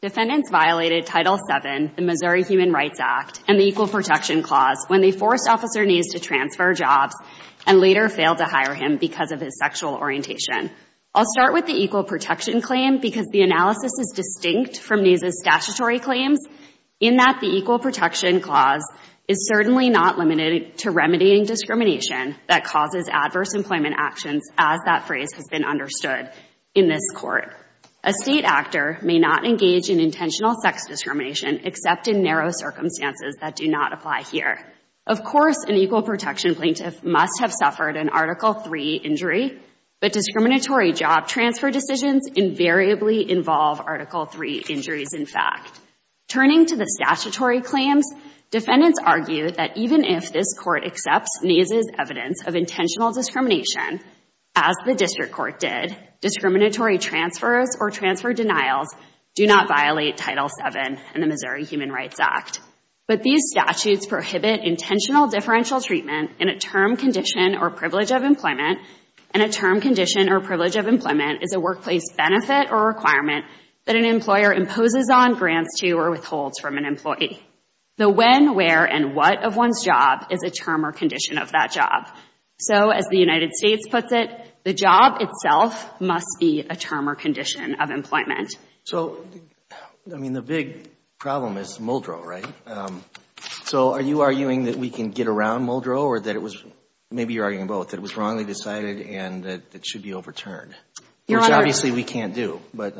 Defendants violated Title VII, the Missouri Human Rights Act, and the Equal Protection Clause when they forced Officer Naes to transfer jobs and later failed to hire him because of his sexual orientation. I'll start with the Equal Protection Claim because the analysis is distinct from Naes' statutory claims in that the Equal Protection Clause is certainly not limited to remediating discrimination that causes adverse employment actions, as that phrase has been understood in this court. A state actor may not engage in intentional sex discrimination except in narrow circumstances that do not apply here. Of course, an Equal Protection Plaintiff must have suffered an Article III injury, but discriminatory job transfer decisions invariably involve Article III injuries, in fact. Turning to the statutory claims, defendants argue that even if this court accepts Naes' evidence of intentional discrimination, as the district court did, discriminatory transfers or transfer denials do not violate Title VII and the Missouri Human Rights Act. But these statutes prohibit intentional differential treatment in a term, condition, or privilege of employment, and a term, condition, or privilege of employment is a workplace benefit or requirement that an employer imposes on, grants to, or withholds from an employee. The when, where, and what of one's job is a term or condition of that job. So as the United States puts it, the job itself must be a term or condition of employment. So I mean, the big problem is Muldrow, right? So are you arguing that we can get around Muldrow or that it was, maybe you're arguing both, that it was wrongly decided and that it should be overturned, which obviously we can't do, but.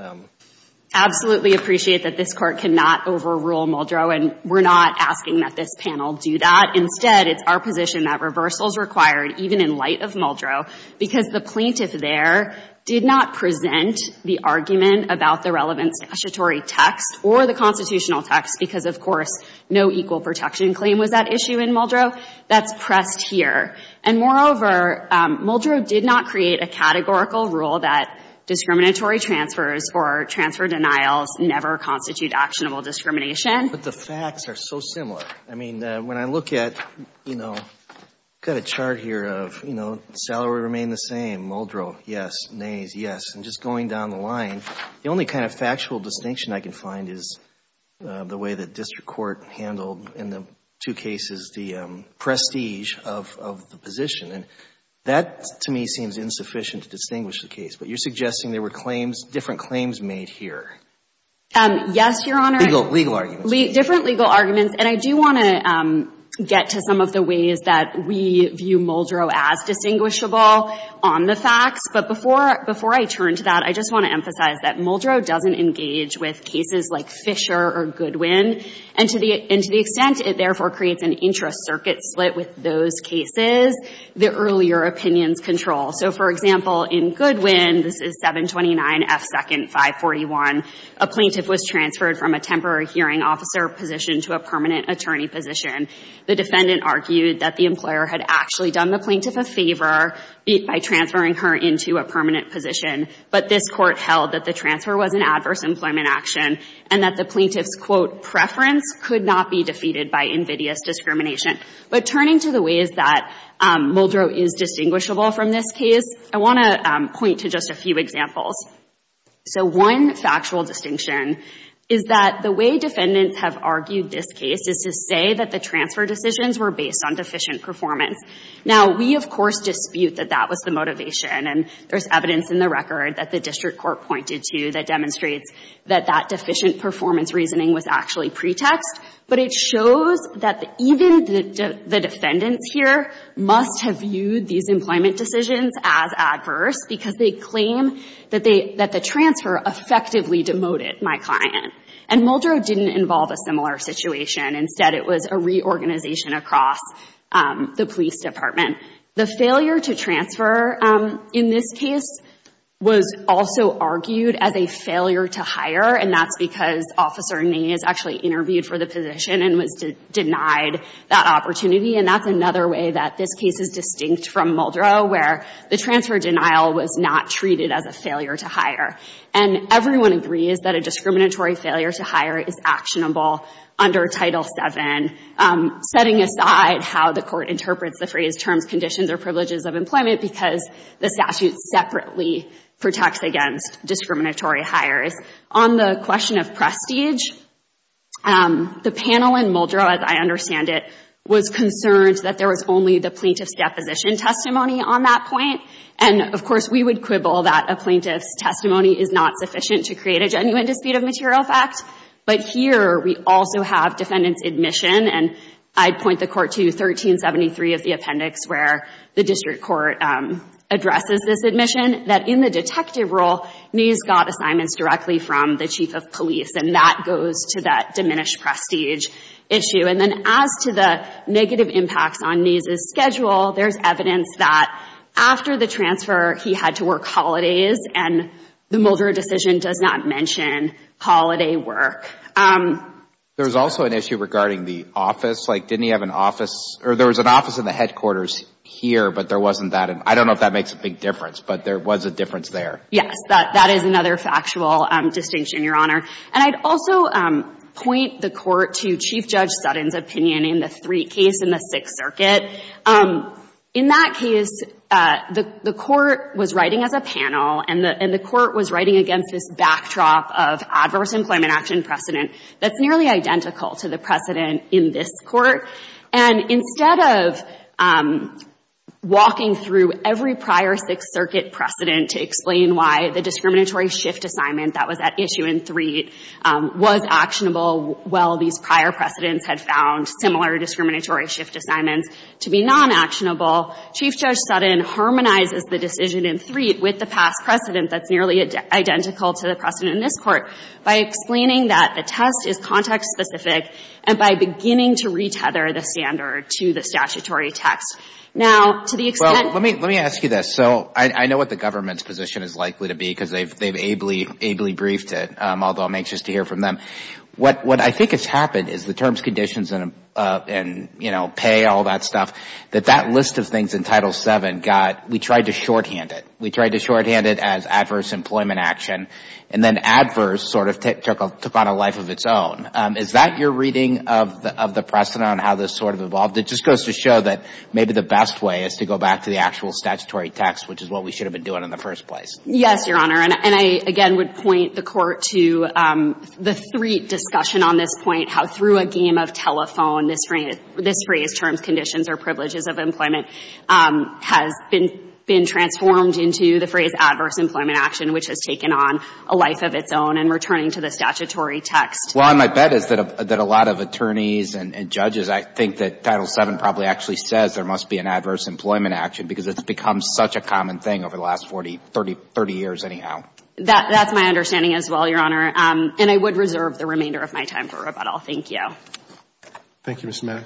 Absolutely appreciate that this Court cannot overrule Muldrow, and we're not asking that this panel do that. Instead, it's our position that reversal is required, even in light of Muldrow, because the plaintiff there did not present the argument about the relevant statutory text or the constitutional text because, of course, no equal protection claim was that issue in Muldrow. That's pressed here. And moreover, Muldrow did not create a categorical rule that discriminatory transfers or transfer denials never constitute actionable discrimination. But the facts are so similar. I mean, when I look at, you know, I've got a chart here of, you know, salary remained the same. Muldrow, yes. Nays, yes. And just going down the line, the only kind of factual distinction I can find is the way the district court handled, in the two cases, the prestige of the position. And that, to me, seems insufficient to distinguish the case. But you're suggesting there were claims, different claims made here. Yes, Your Honor. Legal arguments. Different legal arguments. And I do want to get to some of the ways that we view Muldrow as distinguishable on the facts, but before I turn to that, I just want to emphasize that Muldrow doesn't engage with cases like Fisher or Goodwin. And to the extent it therefore creates an intra-circuit split with those cases, the earlier opinions control. So for example, in Goodwin, this is 729 F. 2nd 541, a plaintiff was transferred from a temporary hearing officer position to a permanent attorney position. The defendant argued that the employer had actually done the plaintiff a favor by transferring her into a permanent position. But this court held that the transfer was an adverse employment action. And that the plaintiff's, quote, preference could not be defeated by invidious discrimination. But turning to the ways that Muldrow is distinguishable from this case, I want to point to just a few examples. So one factual distinction is that the way defendants have argued this case is to say that the transfer decisions were based on deficient performance. Now we, of course, dispute that that was the motivation. And there's evidence in the record that the district court pointed to that demonstrates that that deficient performance reasoning was actually pretext. But it shows that even the defendants here must have viewed these employment decisions as adverse because they claim that the transfer effectively demoted my client. And Muldrow didn't involve a similar situation. Instead, it was a reorganization across the police department. The failure to transfer in this case was also argued as a failure to hire. And that's because Officer Ney is actually interviewed for the position and was denied that opportunity. And that's another way that this case is distinct from Muldrow, where the transfer denial was not treated as a failure to hire. And everyone agrees that a discriminatory failure to hire is actionable under Title VII, setting aside how the court interprets the phrased terms, conditions, or privileges of employment because the statute separately protects against discriminatory hires. On the question of prestige, the panel in Muldrow, as I understand it, was concerned that there was only the plaintiff's deposition testimony on that point. And of course, we would quibble that a plaintiff's testimony is not sufficient to create a genuine dispute of material fact. But here, we also have defendant's admission. And I'd point the court to 1373 of the appendix where the district court addresses this admission that in the detective role, Ney's got assignments directly from the chief of police. And that goes to that diminished prestige issue. And then as to the negative impacts on Ney's schedule, there's evidence that after the There was also an issue regarding the office. Like, didn't he have an office or there was an office in the headquarters here, but there wasn't that. And I don't know if that makes a big difference, but there was a difference there. Yes, that is another factual distinction, Your Honor. And I'd also point the court to Chief Judge Sutton's opinion in the three case in the Sixth Circuit. In that case, the court was writing as a panel, and the court was writing against this backdrop of adverse employment action precedent that's nearly identical to the precedent in this court. And instead of walking through every prior Sixth Circuit precedent to explain why the discriminatory shift assignment that was at issue in Threed was actionable while these prior precedents had found similar discriminatory shift assignments to be non-actionable, Chief Judge Sutton harmonizes the decision in Threed with the past precedent that's nearly identical to the precedent in this court by explaining that the test is context-specific and by beginning to retether the standard to the statutory text. Now to the extent Well, let me ask you this. So I know what the government's position is likely to be because they've ably briefed it, although I'm anxious to hear from them. What I think has happened is the terms, conditions, and pay, all that stuff, that that list of things in Title VII got, we tried to shorthand it. We tried to shorthand it as adverse employment action. And then adverse sort of took on a life of its own. Is that your reading of the precedent on how this sort of evolved? It just goes to show that maybe the best way is to go back to the actual statutory text, which is what we should have been doing in the first place. Yes, Your Honor. And I, again, would point the Court to the Threed discussion on this point, how through a game of telephone, this phrase terms, conditions, or privileges of employment has been transformed into the phrase adverse employment action, which has taken on a life of its own and returning to the statutory text. Well, my bet is that a lot of attorneys and judges, I think that Title VII probably actually says there must be an adverse employment action because it's become such a common thing over the last 40, 30 years anyhow. That's my understanding as well, Your Honor. And I would reserve the remainder of my time for rebuttal. Thank you. Thank you, Ms. Mack.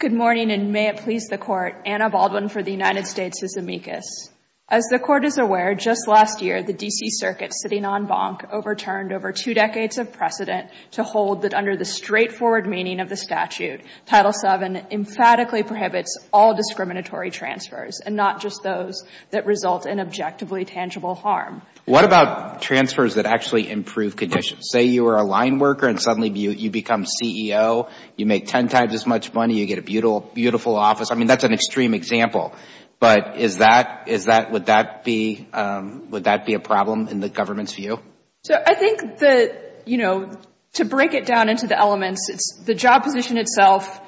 Good morning, and may it please the Court. Anna Baldwin for the United States' amicus. As the Court is aware, just last year, the D.C. Circuit, sitting on bonk, overturned over two decades of precedent to hold that under the straightforward meaning of the statute, Title VII emphatically prohibits all discriminatory transfers and not just those that result in objectively tangible harm. What about transfers that actually improve conditions? Say you were a line worker and suddenly you become CEO, you make ten times as much money, you get a beautiful office. I mean, that's an extreme example. But is that, is that, would that be, would that be a problem in the government's view? So, I think the, you know, to break it down into the elements, it's the job position itself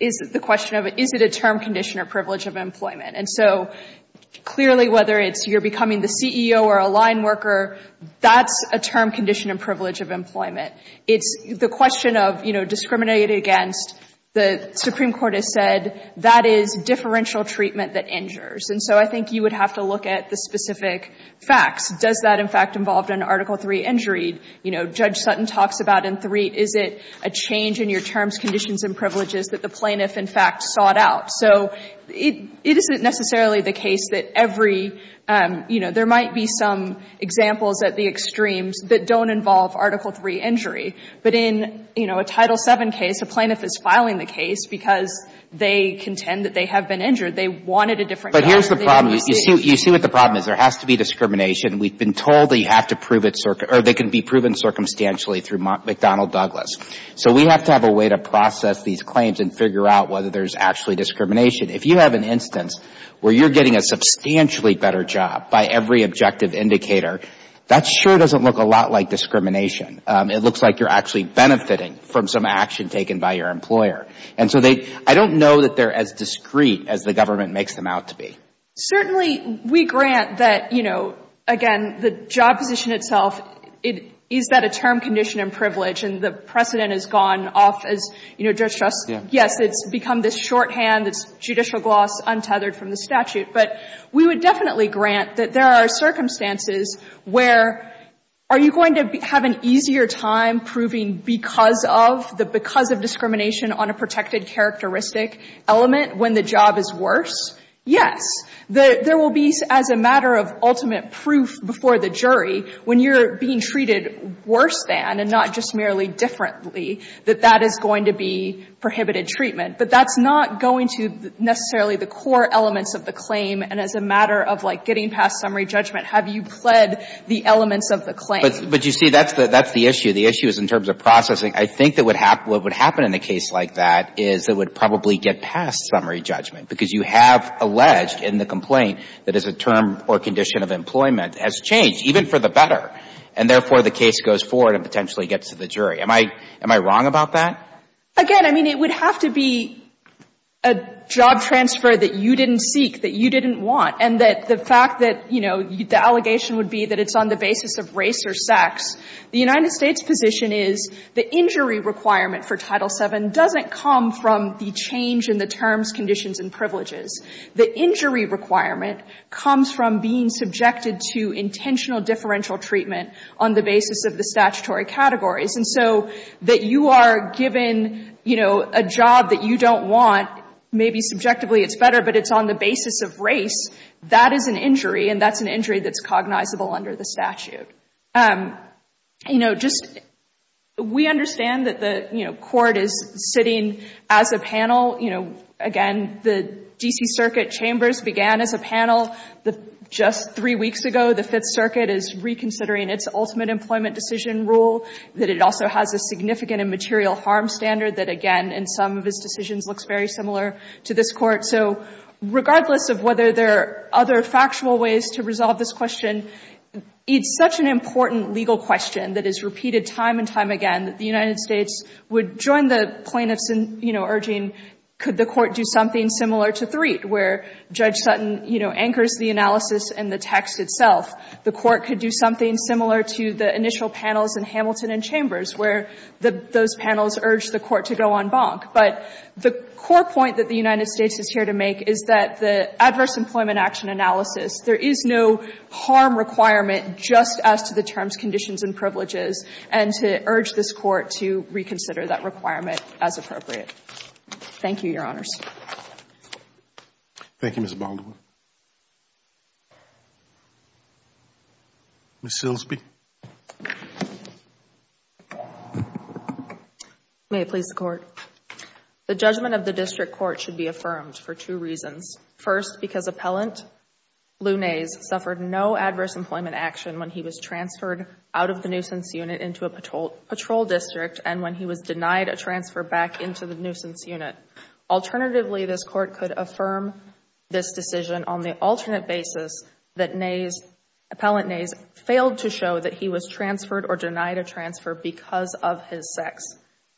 is the question of is it a term condition or privilege of employment? And so, clearly, whether it's you're becoming the CEO or a line worker, that's a term condition and privilege of employment. It's the question of, you know, discriminated against. The Supreme Court has said that is differential treatment that injures. And so, I think you would have to look at the specific facts. Does that, in fact, involve an Article III injury? You know, Judge Sutton talks about in III, is it a change in your terms, conditions and privileges that the plaintiff, in fact, sought out? So it, it isn't necessarily the case that every, you know, there might be some examples at the extremes that don't involve Article III injury. But in, you know, a Title VII case, a plaintiff is filing the case because they contend that they have been injured. They wanted a different kind of thing received. But here's the problem. You see, you see what the problem is. There has to be discrimination. We've been told that you have to prove it, or they can be proven circumstantially through McDonald Douglas. So we have to have a way to process these claims and figure out whether there's actually discrimination. If you have an instance where you're getting a substantially better job by every objective indicator, that sure doesn't look a lot like discrimination. It looks like you're actually benefiting from some action taken by your employer. And so they, I don't know that they're as discreet as the government makes them out to be. Certainly, we grant that, you know, again, the job position itself, it, is that a term condition and privilege? And the precedent has gone off as, you know, Judge Struss, yes, it's become this shorthand, it's judicial gloss, untethered from the statute. But we would definitely grant that there are circumstances where, are you going to have an easier time proving because of, the because of discrimination on a protected characteristic element when the job is worse? Yes. There will be, as a matter of ultimate proof before the jury, when you're being treated worse than, and not just merely differently, that that is going to be prohibited treatment. But that's not going to necessarily the core elements of the claim. And as a matter of, like, getting past summary judgment, have you pled the elements of the claim? But, but you see, that's the, that's the issue. The issue is in terms of processing. I think that would hap, what would happen in a case like that is it would probably get past summary judgment. Because you have alleged in the complaint that as a term or condition of employment has changed, even for the better. And therefore, the case goes forward and potentially gets to the jury. Am I, am I wrong about that? Again, I mean, it would have to be a job transfer that you didn't seek, that you didn't want. And that the fact that, you know, the allegation would be that it's on the basis of race or sex. The United States position is the injury requirement for Title VII doesn't come from the change in the terms, conditions, and privileges. The injury requirement comes from being subjected to intentional differential treatment on the basis of the statutory categories. And so that you are given, you know, a job that you don't want, maybe subjectively it's better, but it's on the basis of race, that is an injury. And that's an injury that's cognizable under the statute. You know, just, we understand that the, you know, court is sitting as a panel. You know, again, the D.C. Circuit Chambers began as a panel. The, just three weeks ago, the Fifth Circuit is reconsidering its ultimate employment decision rule, that it also has a significant immaterial harm standard that, again, in some of its decisions looks very similar to this Court. So regardless of whether there are other factual ways to resolve this question, it's such an important legal question that is repeated time and time again that the United States would join the plaintiffs in, you know, urging, could the Court do something similar to III, where Judge Sutton, you know, anchors the analysis and the text itself. The Court could do something similar to the initial panels in Hamilton and Chambers, where those panels urged the Court to go en banc. But the core point that the United States is here to make is that the adverse employment action analysis, there is no harm requirement just as to the terms, conditions, and privileges, and to urge this Court to reconsider that requirement as appropriate. Thank you, Your Honors. Thank you, Ms. Baldwin. Ms. Silsby. May it please the Court. The judgment of the district court should be affirmed for two reasons. First, because Appellant Lunez suffered no adverse employment action when he was transferred out of the nuisance unit into a patrol district and when he was denied a transfer back into the nuisance unit. Alternatively, this Court could affirm this decision on the alternate basis that Appellant Nays failed to show that he was transferred or denied a transfer because of his sex.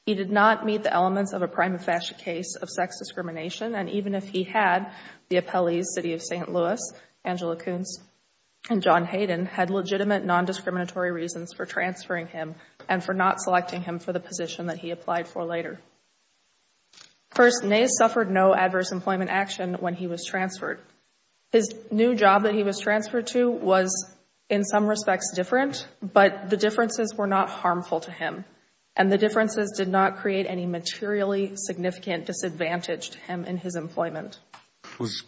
He did not meet the elements of a prima facie case of sex discrimination, and even if he had, the appellees, City of St. Louis, Angela Koontz, and John Hayden, had legitimate nondiscriminatory reasons for transferring him and for not selecting him for the position that he applied for later. First, Nays suffered no adverse employment action when he was transferred. His new job that he was transferred to was in some respects different, but the differences were not harmful to him, and the differences did not create any materially significant disadvantage to him in his employment. Was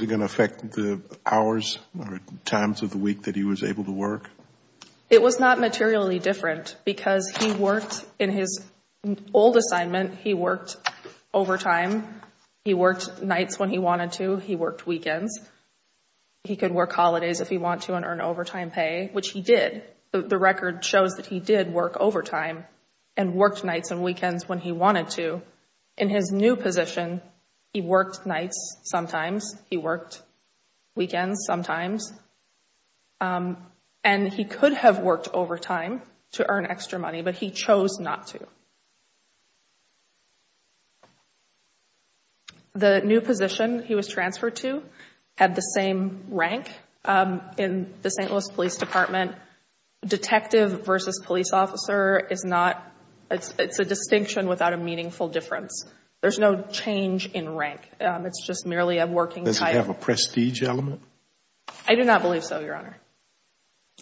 it going to affect the hours or times of the week that he was able to work? It was not materially different because he worked in his old assignment. He worked overtime. He worked nights when he wanted to. He worked weekends. He could work holidays if he wanted to and earn overtime pay, which he did. The record shows that he did work overtime and worked nights and weekends when he wanted to. In his new position, he worked nights sometimes. He worked weekends sometimes. And he could have worked overtime to earn extra money, but he chose not to. The new position he was transferred to had the same rank in the St. Louis Police Department. Detective versus police officer is not, it's a distinction without a meaningful difference. There's no change in rank. It's just merely a working type. Does it have a prestige element? I do not believe so, Your Honor.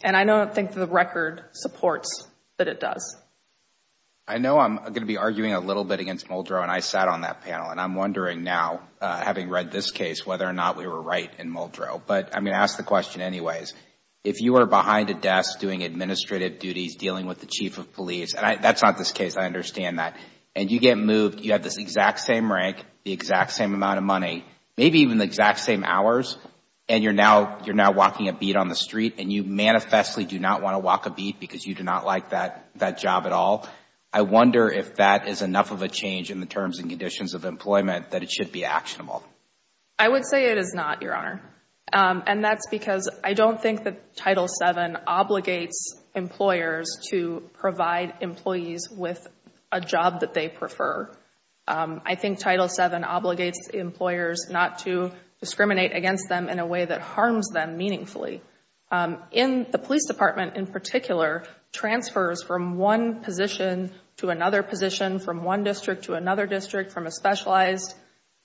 And I don't think the record supports that it does. I know I'm going to be arguing a little bit against Muldrow and I sat on that panel and I'm wondering now, having read this case, whether or not we were right in Muldrow. But I'm going to ask the question anyways. If you were behind a desk doing administrative duties, dealing with the chief of police, and that's not this case, I understand that. And you get moved, you have this exact same rank, the exact same amount of And you're now walking a beat on the street and you manifestly do not want to walk a beat because you do not like that job at all. I wonder if that is enough of a change in the terms and conditions of employment that it should be actionable. I would say it is not, Your Honor. And that's because I don't think that Title VII obligates employers to provide employees with a job that they prefer. I think Title VII obligates employers not to discriminate against them in a way that harms them meaningfully. In the police department in particular, transfers from one position to another position, from one district to another district, from a specialized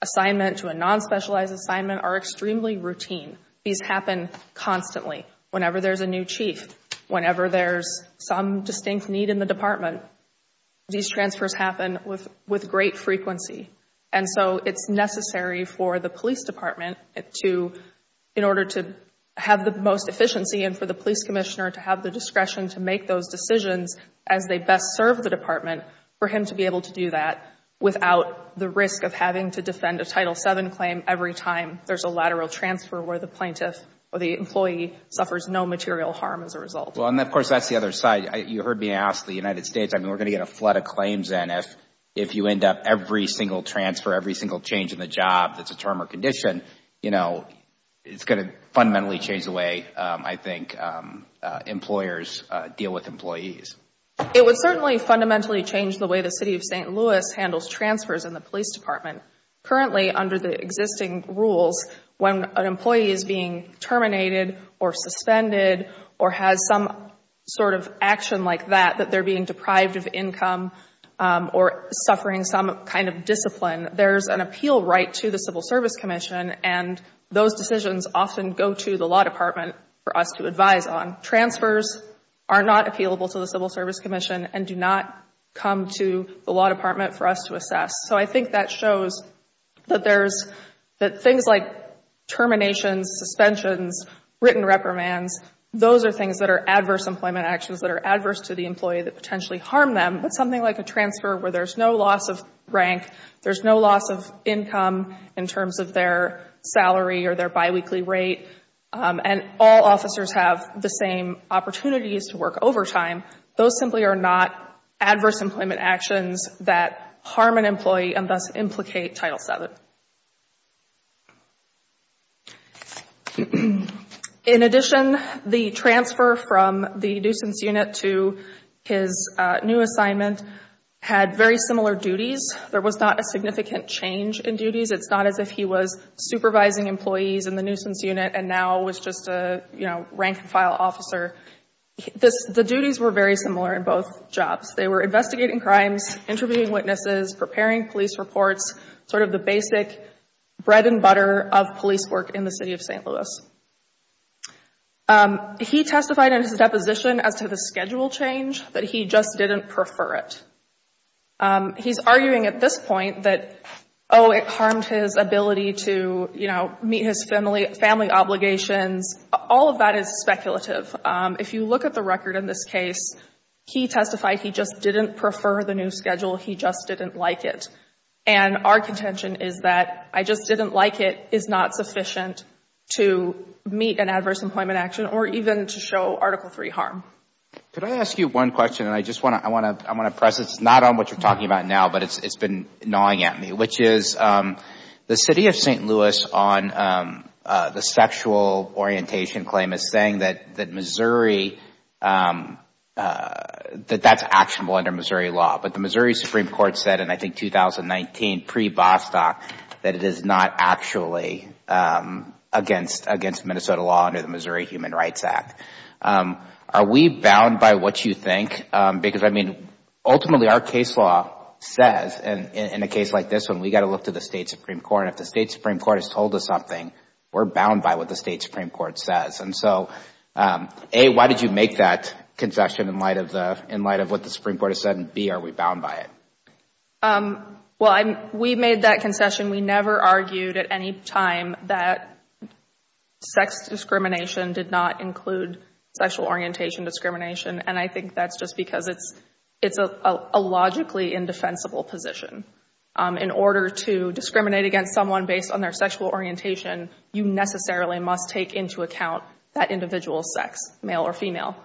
assignment to a non-specialized assignment are extremely routine. These happen constantly. Whenever there's a new chief, whenever there's some distinct need in the And so it's necessary for the police department to, in order to have the most efficiency and for the police commissioner to have the discretion to make those decisions as they best serve the department, for him to be able to do that without the risk of having to defend a Title VII claim every time there's a lateral transfer where the plaintiff or the employee suffers no material harm as a result. Well, and of course, that's the other side. You heard me ask the United States, I mean, we're going to get a flood of claims and if you end up every single transfer, every single change in the job that's a term or condition, you know, it's going to fundamentally change the way, I think, employers deal with employees. It would certainly fundamentally change the way the City of St. Louis handles transfers in the police department. Currently, under the existing rules, when an employee is being terminated or suspended or has some sort of action like that, that they're being deprived of or suffering some kind of discipline, there's an appeal right to the Civil Service Commission and those decisions often go to the law department for us to advise on. Transfers are not appealable to the Civil Service Commission and do not come to the law department for us to assess. So I think that shows that there's, that things like terminations, suspensions, written reprimands, those are things that are adverse employment actions that are adverse to the employee that potentially harm them. But something like a transfer where there's no loss of rank, there's no loss of income in terms of their salary or their biweekly rate, and all officers have the same opportunities to work overtime, those simply are not adverse employment actions that harm an employee and thus implicate Title VII. In addition, the transfer from the nuisance unit to his new assignment had very similar duties. There was not a significant change in duties. It's not as if he was supervising employees in the nuisance unit and now was just a, you know, rank and file officer. The duties were very similar in both jobs. They were investigating crimes, interviewing witnesses, preparing police reports, sort of the basic bread and butter of police work in the city of St. Louis. He testified in his deposition as to the schedule change that he just didn't prefer it. He's arguing at this point that, oh, it harmed his ability to, you know, meet his family obligations. All of that is speculative. If you look at the record in this case, he testified he just didn't prefer the new assignment. And our contention is that I just didn't like it is not sufficient to meet an adverse employment action or even to show Article III harm. Could I ask you one question? And I just want to press this, not on what you're talking about now, but it's been gnawing at me, which is the city of St. Louis on the sexual orientation claim is saying that Missouri, that that's actionable under Missouri law. But the Missouri Supreme Court said in, I think, 2019, pre-Bostock, that it is not actually against Minnesota law under the Missouri Human Rights Act. Are we bound by what you think? Because, I mean, ultimately our case law says, in a case like this one, we've got to look to the State Supreme Court. And if the State Supreme Court has told us something, we're bound by what the State Supreme Court says. And so, A, why did you make that concession in light of what the Supreme Court said? Why are we bound by it? Well, we made that concession. We never argued at any time that sex discrimination did not include sexual orientation discrimination. And I think that's just because it's a logically indefensible position. In order to discriminate against someone based on their sexual orientation, you necessarily must take into account that individual's sex, male or female.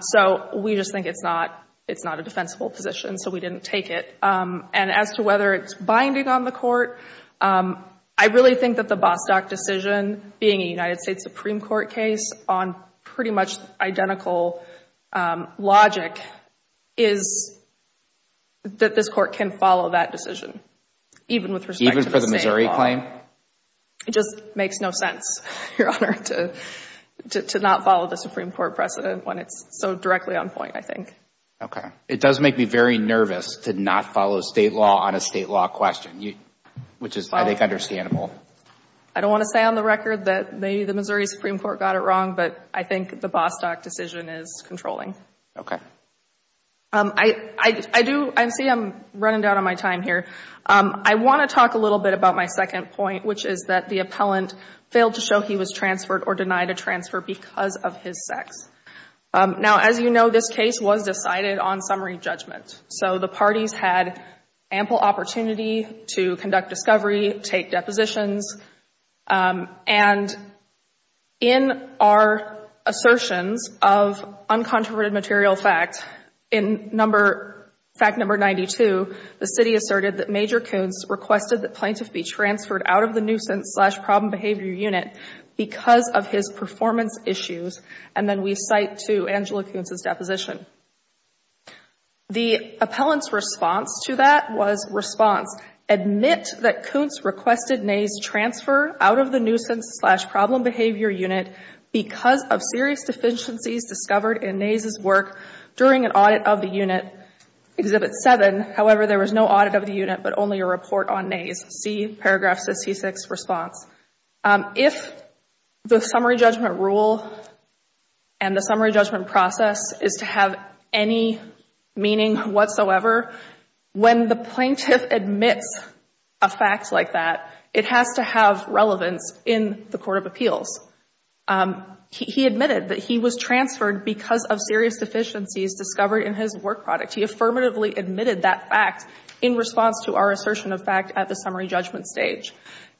So we just think it's not a defensible position. So we didn't take it. And as to whether it's binding on the Court, I really think that the Bostock decision, being a United States Supreme Court case on pretty much identical logic, is that this Court can follow that decision, even with respect to the State law. Even for the Missouri claim? It just makes no sense, Your Honor, to not follow the Supreme Court precedent when it's so directly on point, I think. Okay. It does make me very nervous to not follow State law on a State law question, which is, I think, understandable. I don't want to say on the record that maybe the Missouri Supreme Court got it wrong, but I think the Bostock decision is controlling. Okay. I see I'm running down on my time here. I want to talk a little bit about my second point, which is that the appellant failed to show he was transferred or denied a transfer because of his sex. Now, as you know, this case was decided on summary judgment. So the parties had ample opportunity to conduct discovery, take depositions. And in our assertions of uncontroverted material fact, in fact number 92, the plaintiff be transferred out of the nuisance-slash-problem behavior unit because of his performance issues. And then we cite to Angela Kuntz's deposition. The appellant's response to that was response, admit that Kuntz requested Nays transfer out of the nuisance-slash-problem behavior unit because of serious deficiencies discovered in Nays' work during an audit of the unit, Exhibit 7. However, there was no audit of the unit but only a report on Nays. See paragraphs of C-6 response. If the summary judgment rule and the summary judgment process is to have any meaning whatsoever, when the plaintiff admits a fact like that, it has to have relevance in the court of appeals. He admitted that he was transferred because of serious deficiencies discovered in his work product. He affirmatively admitted that fact in response to our assertion of fact at the summary judgment stage.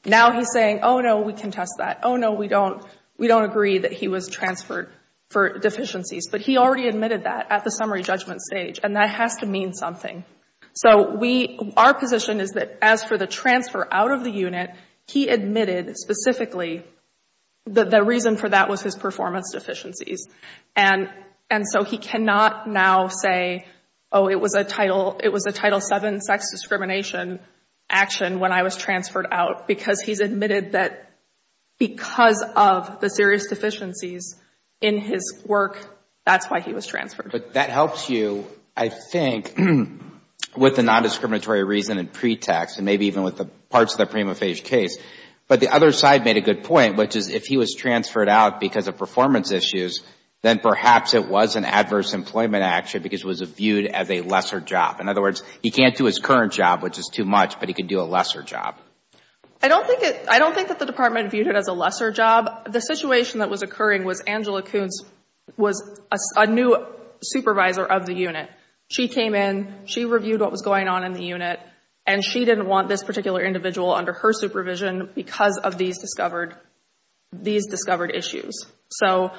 Now he's saying, oh, no, we contest that. Oh, no, we don't agree that he was transferred for deficiencies. But he already admitted that at the summary judgment stage, and that has to mean something. So our position is that as for the transfer out of the unit, he admitted specifically that the reason for that was his performance deficiencies. And so he cannot now say, oh, it was a Title VII sex discrimination action when I was transferred out because he's admitted that because of the serious deficiencies in his work, that's why he was transferred. But that helps you, I think, with the nondiscriminatory reason and pretext and maybe even with the parts of the prima facie case. But the other side made a good point, which is if he was transferred out because of performance issues, then perhaps it was an adverse employment action because it was viewed as a lesser job. In other words, he can't do his current job, which is too much, but he can do a lesser job. I don't think that the Department viewed it as a lesser job. The situation that was occurring was Angela Koonce was a new supervisor of the unit. She came in. She reviewed what was going on in the unit. And she didn't want this particular individual under her supervision because of these discovered issues. So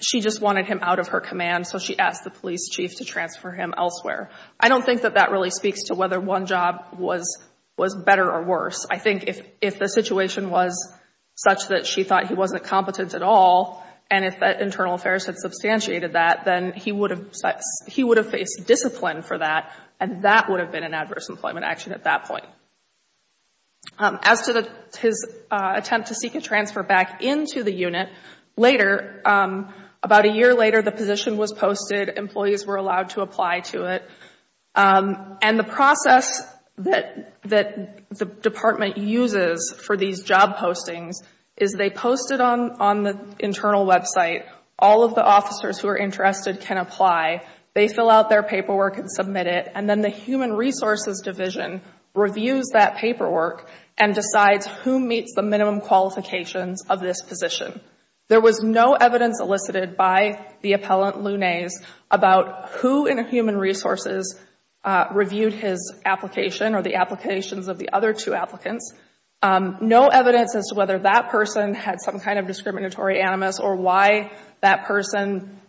she just wanted him out of her command, so she asked the police chief to transfer him elsewhere. I don't think that that really speaks to whether one job was better or worse. I think if the situation was such that she thought he wasn't competent at all, and if internal affairs had substantiated that, then he would have faced discipline for that, and that would have been an adverse employment action at that point. As to his attempt to seek a transfer back into the unit, later, about a year later, the position was posted. Employees were allowed to apply to it. And the process that the Department uses for these job postings is they post it on the internal website. All of the officers who are interested can apply. They fill out their paperwork and submit it. And then the Human Resources Division reviews that paperwork and decides who meets the minimum qualifications of this position. There was no evidence elicited by the appellant, Lunez, about who in Human Resources reviewed his application or the applications of the other two applicants. No evidence as to whether that person had some kind of discriminatory animus or why that person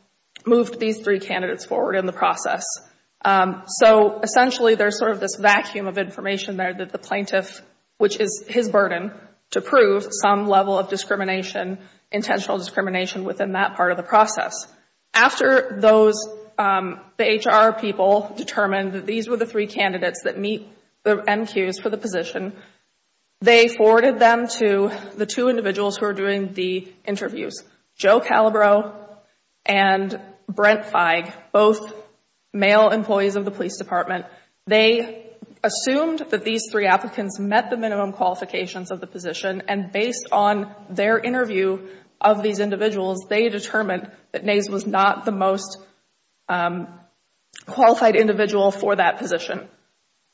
moved these three candidates forward in the process. So, essentially, there's sort of this vacuum of information there that the plaintiff, which is his burden to prove some level of discrimination, intentional discrimination within that part of the process. After the HR people determined that these were the three candidates that meet the MQs for the position, they forwarded them to the two individuals who are doing the interviews. Joe Calabro and Brent Feig, both male employees of the police department. They assumed that these three applicants met the minimum qualifications of the position, and based on their interview of these individuals, they determined that Nays was not the most qualified individual for that position.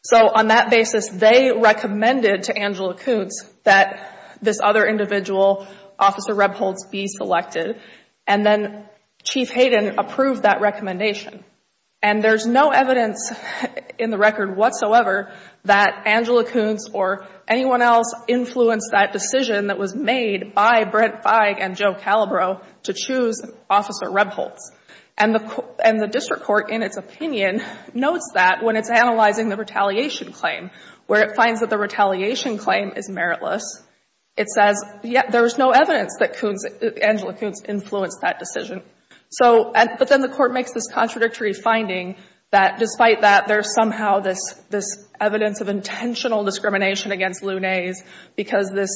So, on that basis, they recommended to Angela Kuntz that this other individual, Officer Rebholtz, be selected, and then Chief Hayden approved that recommendation. And there's no evidence in the record whatsoever that Angela Kuntz or anyone else influenced that decision that was made by Brent Feig and Joe Calabro to choose Officer Rebholtz. And the district court, in its opinion, notes that when it's analyzing the retaliation claim, where it finds that the retaliation claim is meritless, it finds that there's no evidence that Angela Kuntz influenced that decision. But then the court makes this contradictory finding that despite that, there's somehow this evidence of intentional discrimination against Lou Nays because this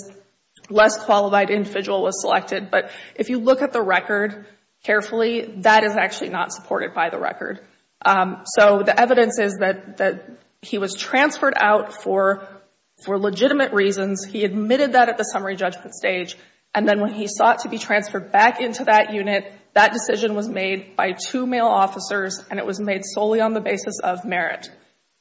less qualified individual was selected. But if you look at the record carefully, that is actually not supported by the record. So the evidence is that he was transferred out for legitimate reasons. He admitted that at the summary judgment stage. And then when he sought to be transferred back into that unit, that decision was made by two male officers, and it was made solely on the basis of merit.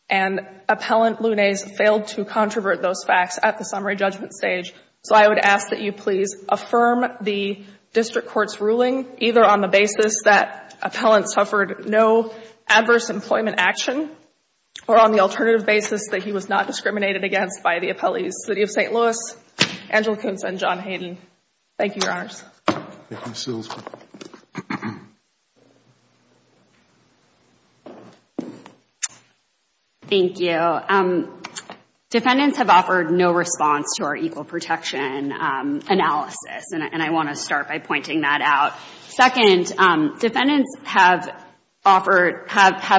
And Appellant Lou Nays failed to controvert those facts at the summary judgment stage. So I would ask that you please affirm the district court's ruling, either on the basis that Appellant suffered no adverse employment action, or on the alternative basis that he was not discriminated against by the appellees, City of St. Louis, Angela Kuntz, and John Hayden. Thank you, Your Honors. Thank you, Ms. Seals. Thank you. Defendants have offered no response to our equal protection analysis, and I want to start by pointing that out. Second, defendants have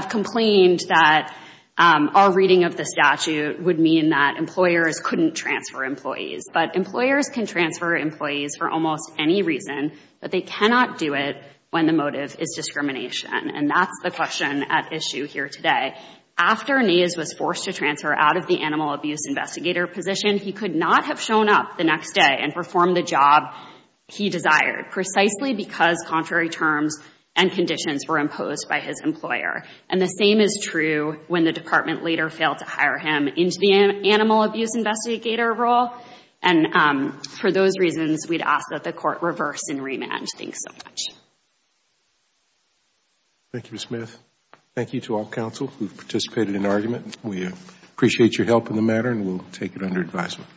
complained that our reading of the statute would mean that employers couldn't transfer employees. But employers can transfer employees for almost any reason, but they cannot do it when the motive is discrimination. And that's the question at issue here today. After Nays was forced to transfer out of the animal abuse investigator position, he could not have shown up the next day and performed the job he had because contrary terms and conditions were imposed by his employer. And the same is true when the department leader failed to hire him into the animal abuse investigator role. And for those reasons, we'd ask that the court reverse and remand. Thanks so much. Thank you, Ms. Smith. Thank you to all counsel who participated in the argument. We appreciate your help in the matter, and we'll take it under advisement.